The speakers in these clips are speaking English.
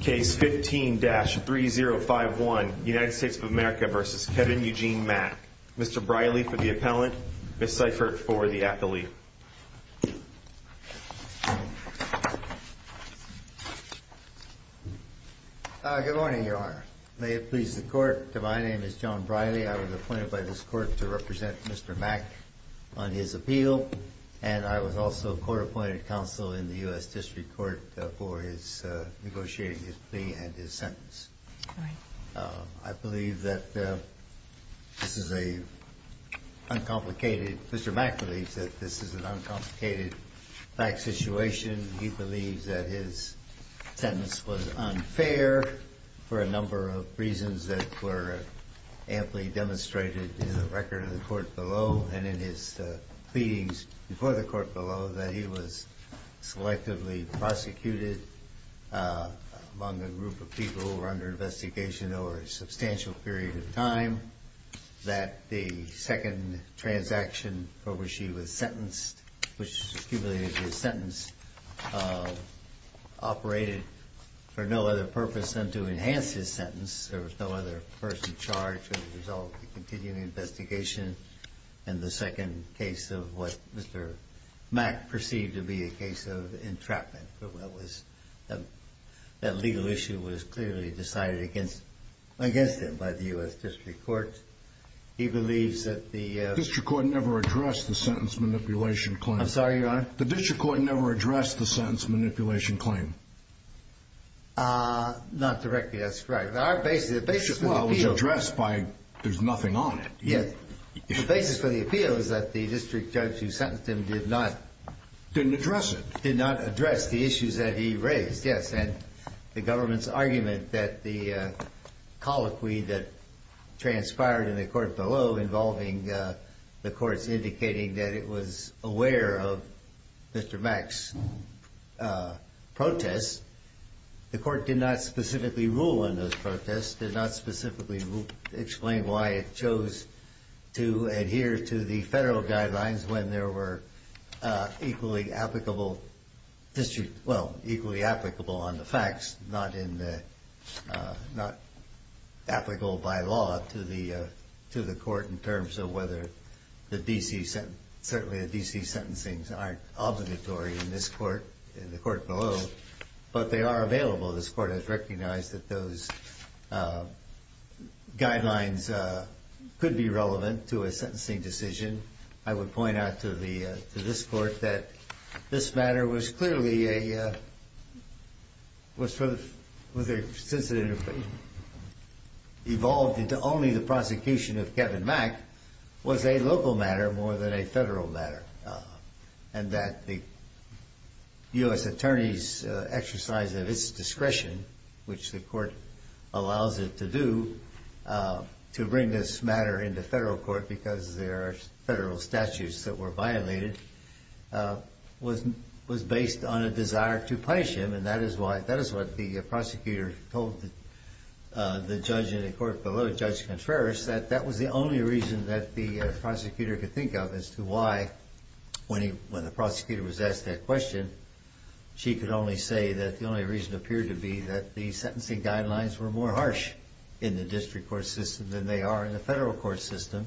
Case 15-3051 United States of America v. Kevin Eugene Mack Mr. Briley for the appellant, Ms. Seifert for the appellee Good morning, your honor. May it please the court, my name is John Briley I was appointed by this court to represent Mr. Mack on his appeal and I was also court appointed counsel in the U.S. District Court for negotiating his plea and his sentence I believe that this is an uncomplicated, Mr. Mack believes that this is an uncomplicated fact situation, he believes that his sentence was unfair for a number of reasons that were amply demonstrated in the record of the court below and in his pleadings before the court below that he was selectively prosecuted among a group of people who were under investigation over a substantial period of time that the second transaction for which he was sentenced which accumulated his sentence operated for no other purpose than to enhance his sentence there was no other person charged as a result of the continued investigation and the second case of what Mr. Mack perceived to be a case of entrapment for what was, that legal issue was clearly decided against him by the U.S. District Court he believes that the... The District Court never addressed the sentence manipulation claim I'm sorry, your honor The District Court never addressed the sentence manipulation claim Not directly, that's correct Well, it was addressed by, there's nothing on it The basis for the appeal is that the district judge who sentenced him did not Didn't address it Did not address the issues that he raised, yes and the government's argument that the colloquy that transpired in the court below the court did not specifically rule on those protests did not specifically explain why it chose to adhere to the federal guidelines when there were equally applicable, well, equally applicable on the facts not in the, not applicable by law to the court in terms of whether the D.C. sentence, certainly the D.C. sentencing aren't obligatory in this court, in the court below but they are available, this court has recognized that those guidelines could be relevant to a sentencing decision I would point out to this court that this matter was clearly a was for the, since it evolved into only the prosecution of Kevin Mack was a local matter more than a federal matter and that the U.S. attorney's exercise of its discretion which the court allows it to do to bring this matter into federal court because there are federal statutes that were violated was based on a desire to punish him and that is why, that is what the prosecutor told the judge in the court below that that was the only reason that the prosecutor could think of as to why, when the prosecutor was asked that question she could only say that the only reason appeared to be that the sentencing guidelines were more harsh in the district court system than they are in the federal court system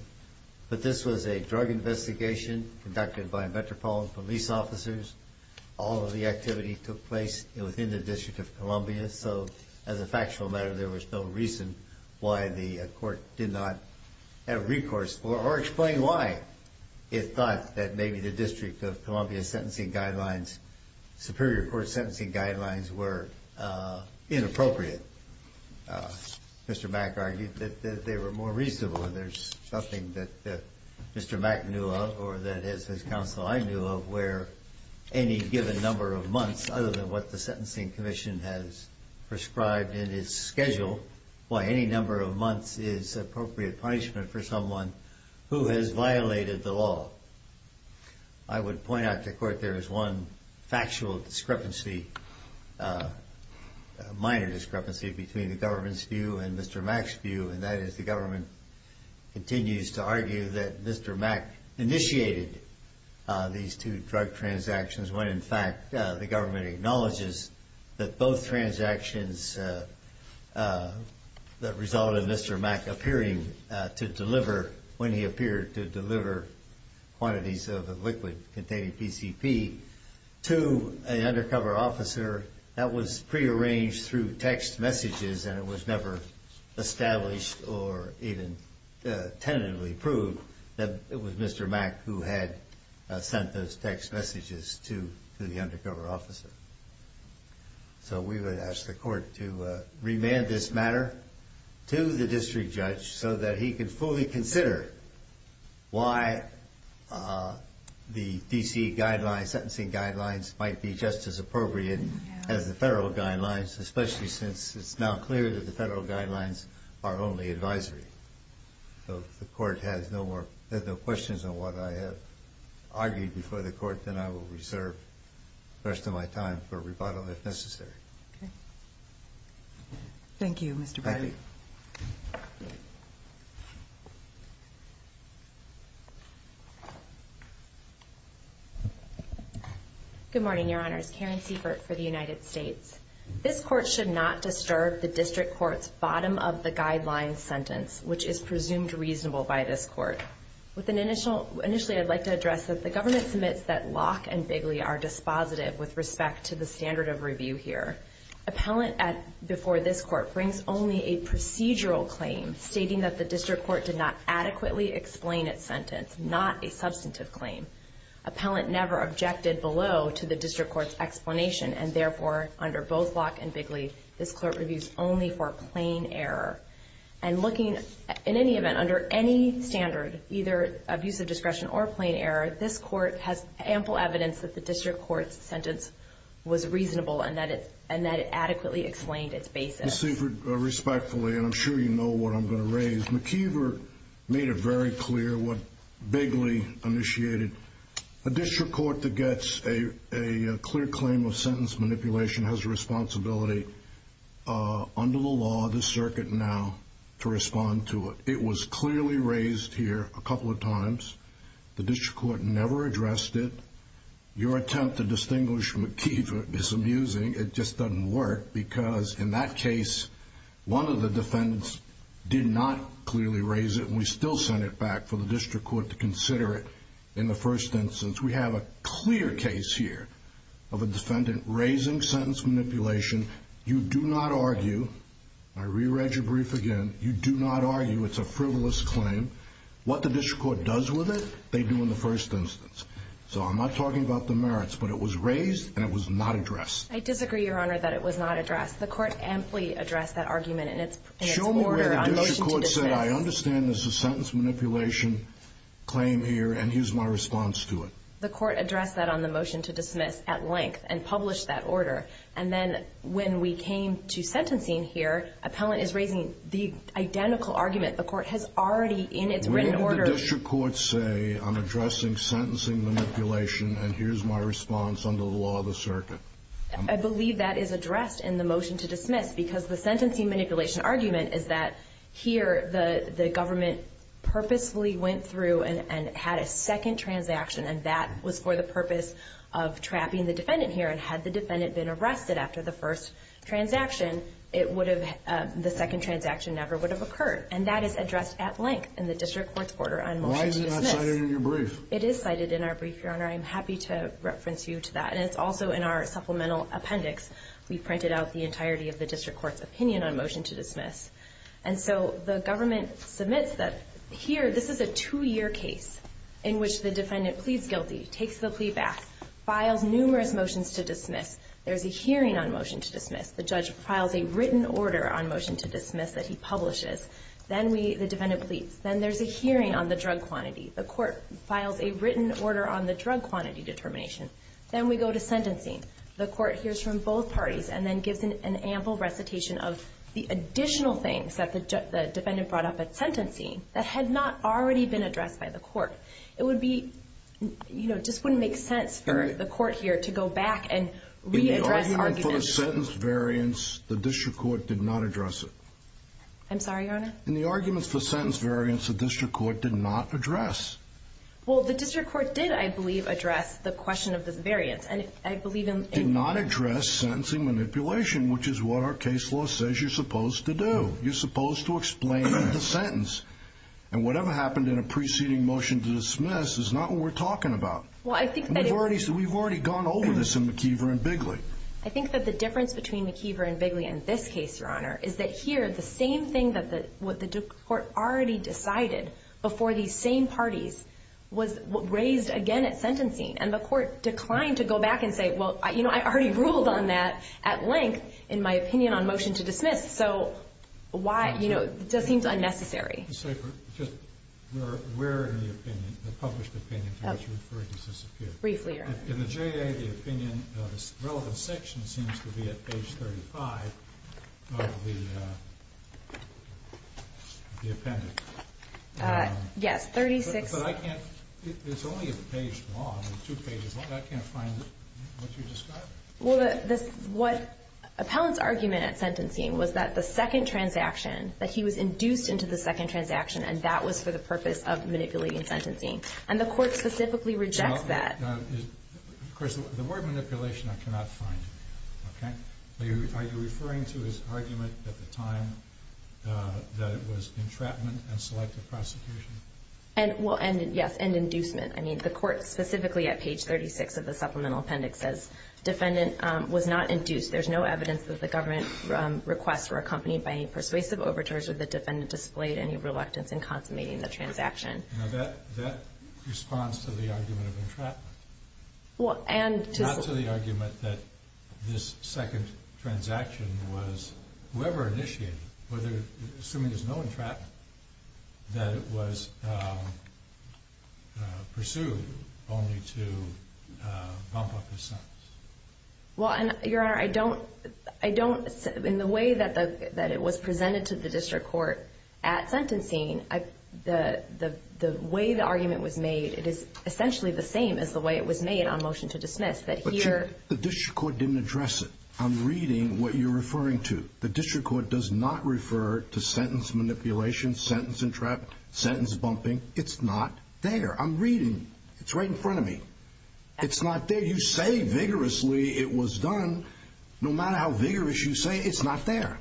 but this was a drug investigation conducted by metropolitan police officers all of the activity took place within the District of Columbia so as a factual matter there was no reason why the court did not have recourse or explain why it thought that maybe the District of Columbia sentencing guidelines superior court sentencing guidelines were inappropriate Mr. Mack argued that they were more reasonable and there's nothing that Mr. Mack knew of where any given number of months other than what the Sentencing Commission has prescribed in its schedule why any number of months is appropriate punishment for someone who has violated the law I would point out to court there is one factual discrepancy minor discrepancy between the government's view and Mr. Mack's view and that is the government continues to argue that Mr. Mack initiated these two drug transactions when in fact the government acknowledges that both transactions that resulted in Mr. Mack appearing to deliver when he appeared to deliver quantities of liquid containing PCP to an undercover officer that was prearranged through text messages and it was never established or even tentatively proved that it was Mr. Mack who had sent those text messages to the undercover officer so we would ask the court to remand this matter to the district judge so that he could fully consider why the D.C. guidelines, sentencing guidelines might be just as appropriate as the federal guidelines especially since it's now clear that the federal guidelines are only advisory so if the court has no questions on what I have argued before the court then I will reserve the rest of my time for rebuttal if necessary Thank you Mr. Bradley Good morning your honors, Karen Sievert for the United States This court should not disturb the district court's bottom of the guidelines sentence which is presumed reasonable by this court Initially I'd like to address that the government submits that Locke and Bigley are dispositive with respect to the standard of review here Appellant before this court brings only a procedural claim stating that the district court did not adequately explain its sentence not a substantive claim Appellant never objected below to the district court's explanation and therefore under both Locke and Bigley this court reviews only for plain error and looking, in any event, under any standard either abuse of discretion or plain error this court has ample evidence that the district court's sentence was reasonable and that it adequately explained its basis Ms. Sievert, respectfully, and I'm sure you know what I'm going to raise Ms. McKeever made it very clear what Bigley initiated A district court that gets a clear claim of sentence manipulation has a responsibility under the law of the circuit now to respond to it It was clearly raised here a couple of times The district court never addressed it Your attempt to distinguish McKeever is amusing It just doesn't work because in that case one of the defendants did not clearly raise it and we still send it back for the district court to consider it in the first instance We have a clear case here of a defendant raising sentence manipulation You do not argue I re-read your brief again You do not argue it's a frivolous claim What the district court does with it, they do in the first instance So I'm not talking about the merits but it was raised and it was not addressed I disagree, Your Honor, that it was not addressed The court amply addressed that argument in its order Show me where the district court said I understand there's a sentence manipulation claim here and here's my response to it The court addressed that on the motion to dismiss at length and published that order and then when we came to sentencing here Appellant is raising the identical argument The court has already in its written order Where did the district court say I'm addressing sentencing manipulation and here's my response under the law of the circuit I believe that is addressed in the motion to dismiss because the sentencing manipulation argument is that here the government purposefully went through and had a second transaction and that was for the purpose of trapping the defendant here and had the defendant been arrested after the first transaction the second transaction never would have occurred and that is addressed at length in the district court's order on motion to dismiss Why is it not cited in your brief? It is cited in our brief, Your Honor I'm happy to reference you to that and it's also in our supplemental appendix We've printed out the entirety of the district court's opinion on motion to dismiss and so the government submits that Here, this is a two-year case in which the defendant pleads guilty takes the plea back files numerous motions to dismiss there's a hearing on motion to dismiss the judge files a written order on motion to dismiss that he publishes then the defendant pleads then there's a hearing on the drug quantity the court files a written order on the drug quantity determination then we go to sentencing the court hears from both parties and then gives an ample recitation of the additional things that the defendant brought up at sentencing that had not already been addressed by the court It would be, you know, just wouldn't make sense for the court here to go back and re-address arguments In the argument for the sentence variance the district court did not address it I'm sorry, Your Honor? In the arguments for sentence variance the district court did not address Well, the district court did, I believe, address the question of this variance and I believe in did not address sentencing manipulation which is what our case law says you're supposed to do you're supposed to explain the sentence and whatever happened in a preceding motion to dismiss is not what we're talking about Well, I think that We've already gone over this in McIver and Bigley I think that the difference between McIver and Bigley in this case, Your Honor is that here, the same thing that the what the district court already decided before these same parties was raised again at sentencing and the court declined to go back and say well, you know, I already ruled on that at length in my opinion on motion to dismiss so why, you know, it just seems unnecessary I'm sorry, but just where in the opinion, the published opinion are you referring to this appeal? Briefly, Your Honor In the JA, the opinion the relevant section seems to be at page 35 of the the appendix Yes, 36 But I can't it's only a page long two pages long I can't find what you're describing Well, this what Appellant's argument at sentencing was that the second transaction that he was induced into the second transaction and that was for the purpose of manipulating sentencing and the court specifically rejects that Of course, the word manipulation, I cannot find Okay Are you referring to his argument at the time that it was entrapment and selective prosecution? And, well, yes, and inducement I mean, the court specifically at page 36 of the supplemental appendix says defendant was not induced there's no evidence that the government requests were accompanied by any persuasive overtures or the defendant displayed any reluctance in consummating the transaction Now, that responds to the argument of entrapment Well, and Not to the argument that this second transaction was whoever initiated it whether, assuming there's no entrapment that it was pursued only to bump up his sentence Well, and, your honor, I don't I don't in the way that it was presented to the district court at sentencing the way the argument was made it is essentially the same as the way it was made on motion to dismiss that here The district court didn't address it I'm reading what you're referring to The district court does not refer to sentence manipulation sentence entrapment sentence bumping It's not there I'm reading It's right in front of me It's not there You say vigorously it was done No matter how vigorous you say it It's not there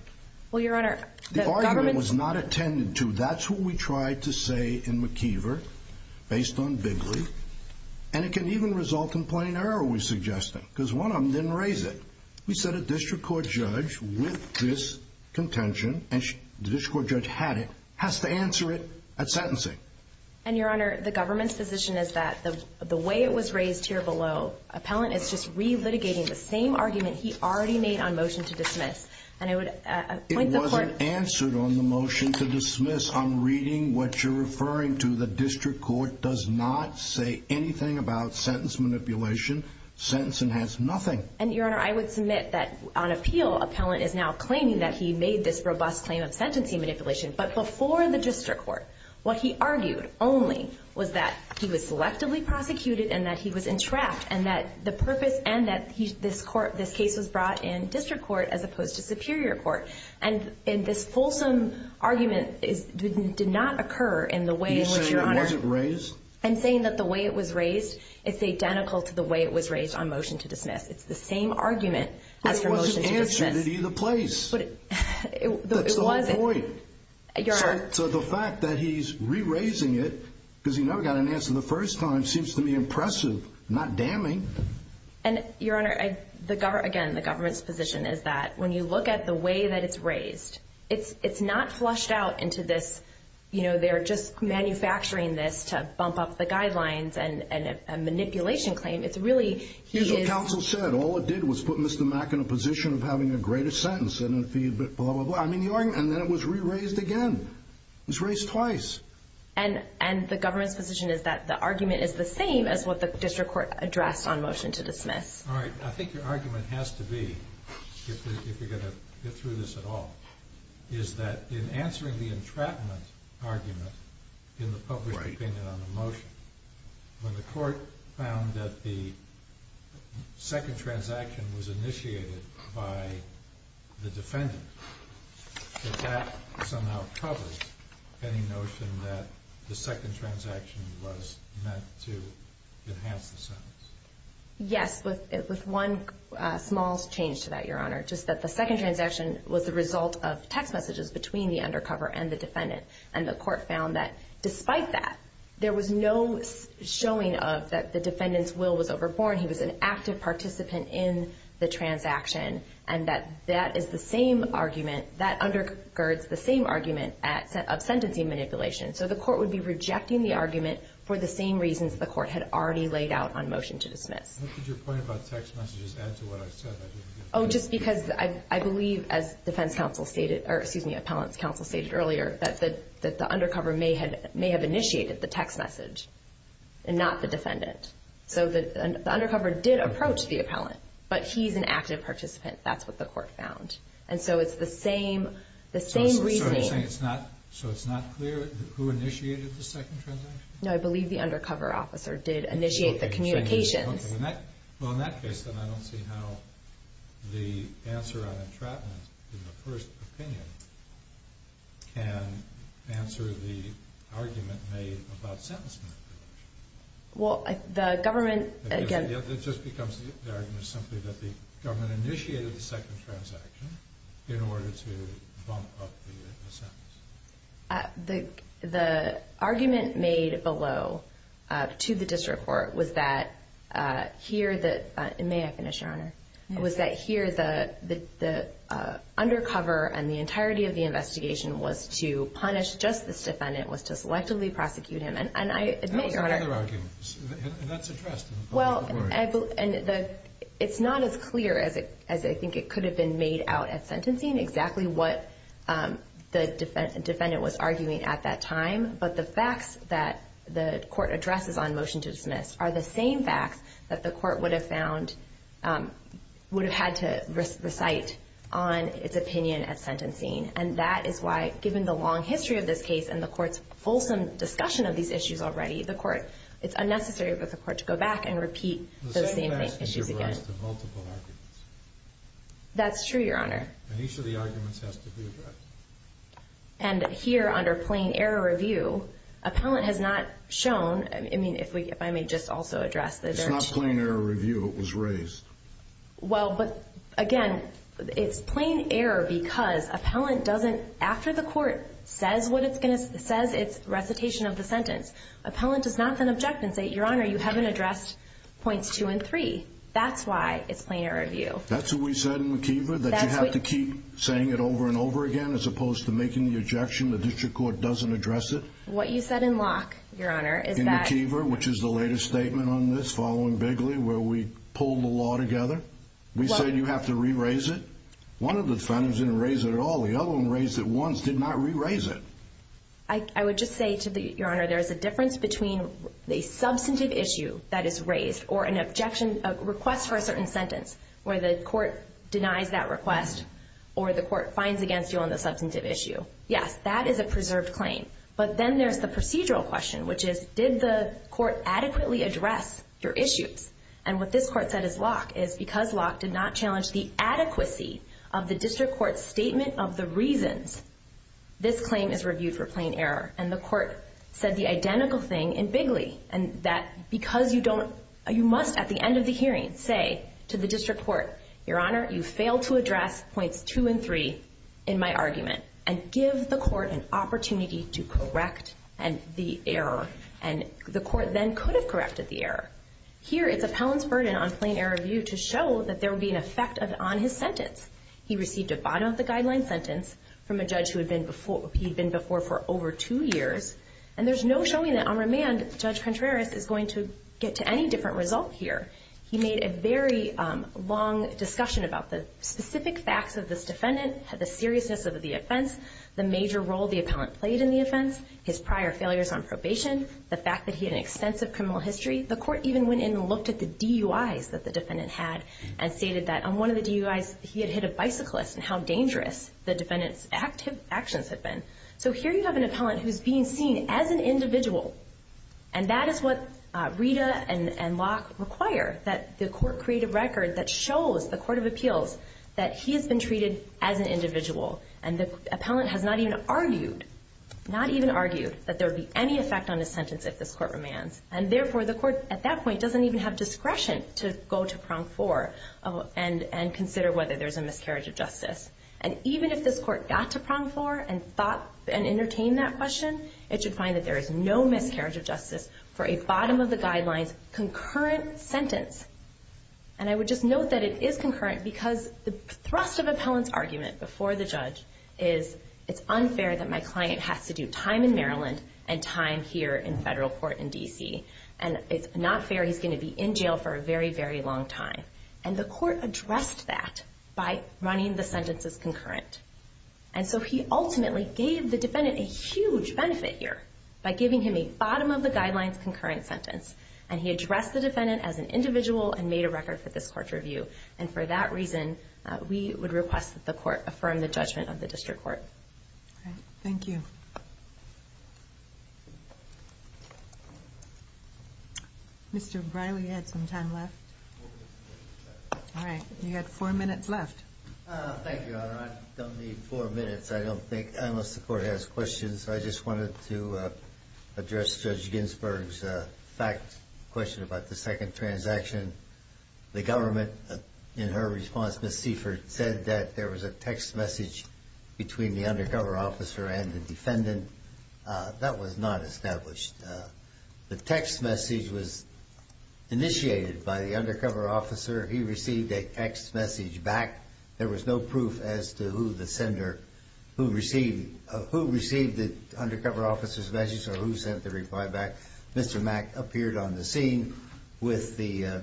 Well, your honor The argument was not attended to That's what we tried to say in McKeever based on Bigley And it can even result in plain error we're suggesting Because one of them didn't raise it We sent a district court judge with this contention and the district court judge had it has to answer it at sentencing And your honor the government's position is that the way it was raised here below Appellant is just re-litigating the same argument he already made on motion to dismiss It wasn't answered on the motion to dismiss I'm reading what you're referring to The district court does not say anything about sentence manipulation Sentencing has nothing And your honor I would submit that on appeal Appellant is now claiming that he made this robust claim of sentencing manipulation But before the district court what he argued only was that he was selectively prosecuted and that he was entrapped and that the purpose and that this case was brought in district court as opposed to superior court And this fulsome argument did not occur in the way in which your honor You're saying it wasn't raised I'm saying that the way it was raised is identical to the way it was raised on motion to dismiss It's the same argument as for motion to dismiss But it wasn't answered at either place That's the whole point Your honor So the fact that he's re-raising it because he never got an answer the first time seems to me impressive not damning And your honor Again, the government's position is that when you look at the way that it's raised it's not flushed out into this you know, they're just manufacturing this to bump up the guidelines and a manipulation claim It's really Here's what counsel said All it did was put Mr. Mack in a position of having a greater sentence and a fee, blah, blah, blah I mean, your honor And then it was re-raised again It was raised twice And the government's position is that the argument is the same as what the district court addressed on motion to dismiss All right I think your argument has to be if you're going to get through this at all is that in answering the entrapment argument in the public opinion on the motion When the court found that the second transaction was initiated by the defendant did that somehow cover any notion that the second transaction was meant to enhance the sentence? Yes, with one small change to that, your honor Just that the second transaction was the result of text messages between the undercover and the defendant And the court found that despite that there was no showing of that the defendant's will was overborne He was an active participant in the transaction And that that is the same argument that undergirds the same argument of sentencing manipulation So the court would be rejecting the argument for the same reasons the court had already laid out on motion to dismiss What did your point about text messages add to what I've said? Oh, just because I believe as defense counsel stated or, excuse me, appellant's counsel stated earlier that the undercover may have initiated the text message and not the defendant So the undercover did approach the appellant but he's an active participant That's what the court found And so it's the same the same reasoning So it's not clear who initiated the second transaction? No, I believe the undercover officer did initiate the communications Well, in that case then I don't see how the answer on entrapment in the first opinion can answer the argument made about sentencing manipulation Well, the government It just becomes the argument simply that the government initiated the second transaction in order to bump up the sentence The argument made below to the district court was that here the May I finish, Your Honor? Was that here the undercover and the entirety of the investigation was to punish just this defendant was to selectively prosecute him And I admit, Your Honor That was another argument And that's addressed Well, it's not as clear as I think it could have been made out at sentencing exactly what the defendant was arguing at that time But the facts that the court addresses on motion to dismiss are the same facts that the court would have found would have had to recite on its opinion at sentencing And that is why given the long history of this case and the court's fulsome discussion of these issues already the court It's unnecessary for the court to go back and repeat those same issues again The same questions arise to multiple arguments That's true, Your Honor And each of the arguments has to be addressed And here under plain error review appellant has not shown I mean, if I may just also address It's not plain error review It was raised Well, but again It's plain error because appellant doesn't after the court says what it's going to says its recitation of the sentence Appellant does not then object and say, Your Honor you haven't addressed points two and three That's why it's plain error review That's what we said in McKeever that you have to keep saying it over and over again as opposed to making the objection the district court doesn't address it What you said in Locke Your Honor In McKeever which is the latest statement on this following Bigley where we pulled the law together We said you have to re-raise it One of the defendants didn't raise it at all The other one raised it once did not re-raise it I would just say to the Your Honor there's a difference between a substantive issue that is raised or an objection a request for a certain sentence where the court denies that request or the court finds against you on the substantive issue Yes, that is a preserved claim But then there's the procedural question which is did the court adequately address your issues? And what this court said is Locke is because Locke did not challenge the adequacy of the district court's statement of the reasons this claim is reviewed for plain error and the court said the identical thing in Bigley and that because you don't you must at the end of the hearing say to the district court Your Honor you failed to address points two and three in my argument and give the court an opportunity to correct the error and the court then could have corrected the error Here it's appellant's burden on plain error review to show that there would be an effect on his sentence He received a bottom of the guideline sentence from a judge who had been before he'd been before for over two years and there's no showing that on remand Judge Contreras is going to get to any different result here He made a very long discussion about the specific facts of this defendant the seriousness of the offense the major role the appellant played in the offense his prior failures on probation the fact that he had an extensive criminal history the court even went in and looked at the DUIs that the defendant had and stated that on one of the DUIs he had hit a bicyclist and how dangerous the defendant's actions had been So here you have an appellant who's being seen as an individual and that is what Rita and Locke require that the court create a record that shows the court of appeals that he has been treated as an individual and the appellant has not even argued not even argued that there would be any effect on his sentence if this court remands and therefore the court at that point doesn't even have discretion to go to prong four and consider whether there's a miscarriage of justice and even if this court got to prong four and thought and entertained that question it should find that there is no miscarriage of justice for a bottom of the guidelines concurrent sentence and I would just note that it is concurrent because the thrust of appellant's argument before the judge is it's unfair that my client has to do time in Maryland and time here in federal court in D.C. and it's not fair he's going to be in jail for a very very long time and the court addressed that by running the sentence as concurrent and so he ultimately gave the defendant a huge benefit here by giving him a bottom of the guidelines concurrent sentence and he addressed the defendant as an individual and made a record for this court's review and for that reason we would request that the court affirm the judgment of the district court. All right. Thank you. Mr. Briley you had some time left. All right. You had four minutes left. Thank you Your Honor. I don't need four minutes I don't think unless the court has questions. I just wanted to address Judge Ginsburg's fact question about the second transaction. The government in her response Ms. Seifert said that there was a text message between the undercover officer and the defendant. That was not established. The text message was initiated by the undercover officer. He received a text message back. There was no proof as to who the sender who received who received the undercover officer's message or who sent the reply back. Mr. Mack appeared on the scene with the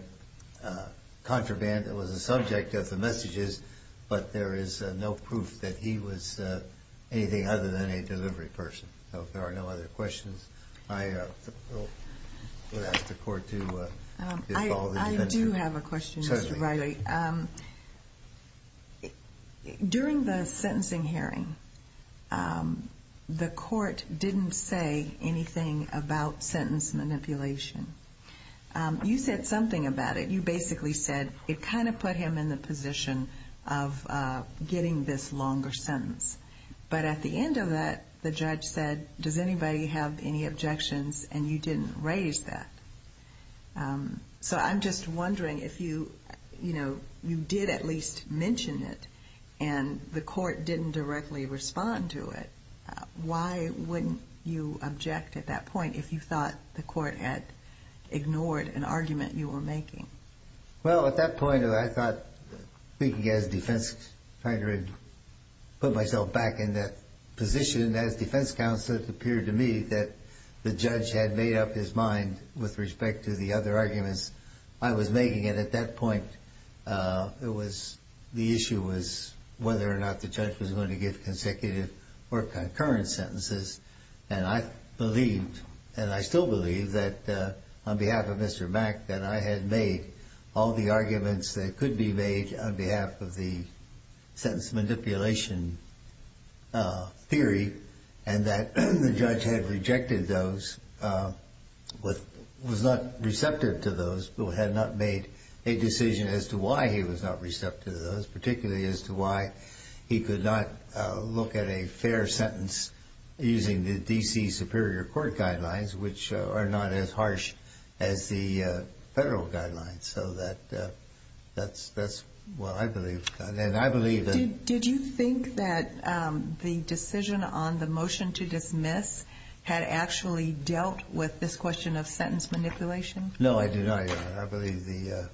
contraband that was the subject of the messages but there is no proof that he was anything other than a delivery person. So if there are no other questions I will ask the court to call the defense. I do have a question Mr. Riley. During the sentencing hearing the court didn't say anything about sentence manipulation. You said something about it. You basically said it kind of put him in the position of getting this longer sentence. But at the end of that the judge said does anybody have any objections and you didn't raise that. So I'm just wondering if you you know you did at least mention it and the court didn't directly respond to it. Why wouldn't you object at that point if you thought the court had ignored an argument you were making? Well at that point I thought speaking as defense counsel I was not trying to put myself back in that position as defense counsel it appeared to me that the judge had made up his mind with respect to the other arguments I was making at that point. It was the issue was whether or not the judge was going to give consecutive or concurrent sentences and I believed and I still believe that on behalf of Mr. Mack that I had made all the arguments that could be made on behalf of the sentence manipulation theory and that the judge had rejected those was not receptive to those but had not made a decision as to why he was not receptive to those particularly as to why he could not look at a fair sentence using the D.C. Superior Court guidelines which are not as harsh as the federal guidelines. So that's what I believe and I believe that Did you think that the decision on the motion to dismiss had actually dealt with this question of sentence manipulation? No, I do not. I believe the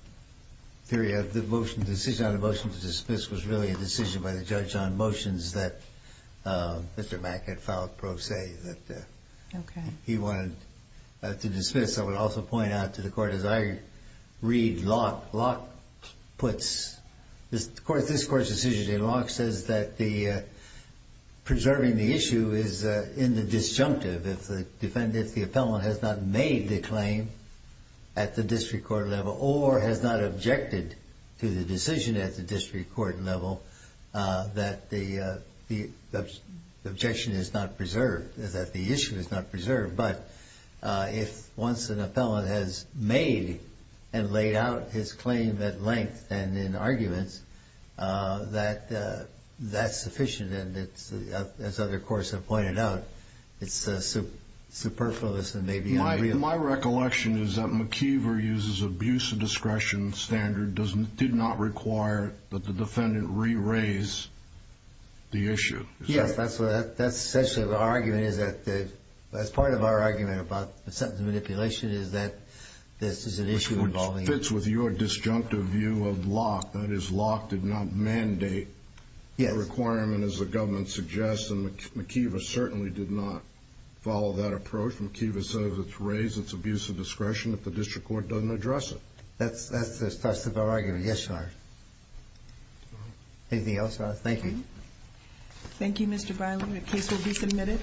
theory of the decision on the motion to dismiss was really a decision by the judge on motions that Mr. Mack had filed pro se that he wanted to dismiss. I would also point out to the Court as I read Locke puts this Court's decision and Locke says that the preserving the issue is in the disjunctive if the defendant, the appellant has not made the claim at the district court level or has not objected to the decision at the district court level that the objection is not preserved, that the issue is not preserved, but if once an appellant has made and laid out his claim at length and in arguments that that's sufficient and as other courts have pointed out it's superfluous and maybe unreal. My recollection is that McIver uses abuse of discretion standard did not require that the defendant re-raise the issue. Yes, that's essentially our argument is that as part of our argument about the manipulation is that this is an issue involving Locke. Which fits with your disjunctive view of case. I would not follow that approach. McIver says it's raised it's abuse of discretion if the district court doesn't address it. That's our argument. Thank you. Thank you, Mr. Biley. Your case will be submitted. Thank you. Thank you. Thank you. Thank you. Thank you. Thank you. Thank you. Thank you. Thank you. Thank you. Thank you. Thank you. Thank you. Thank you. Thank you. Thank you.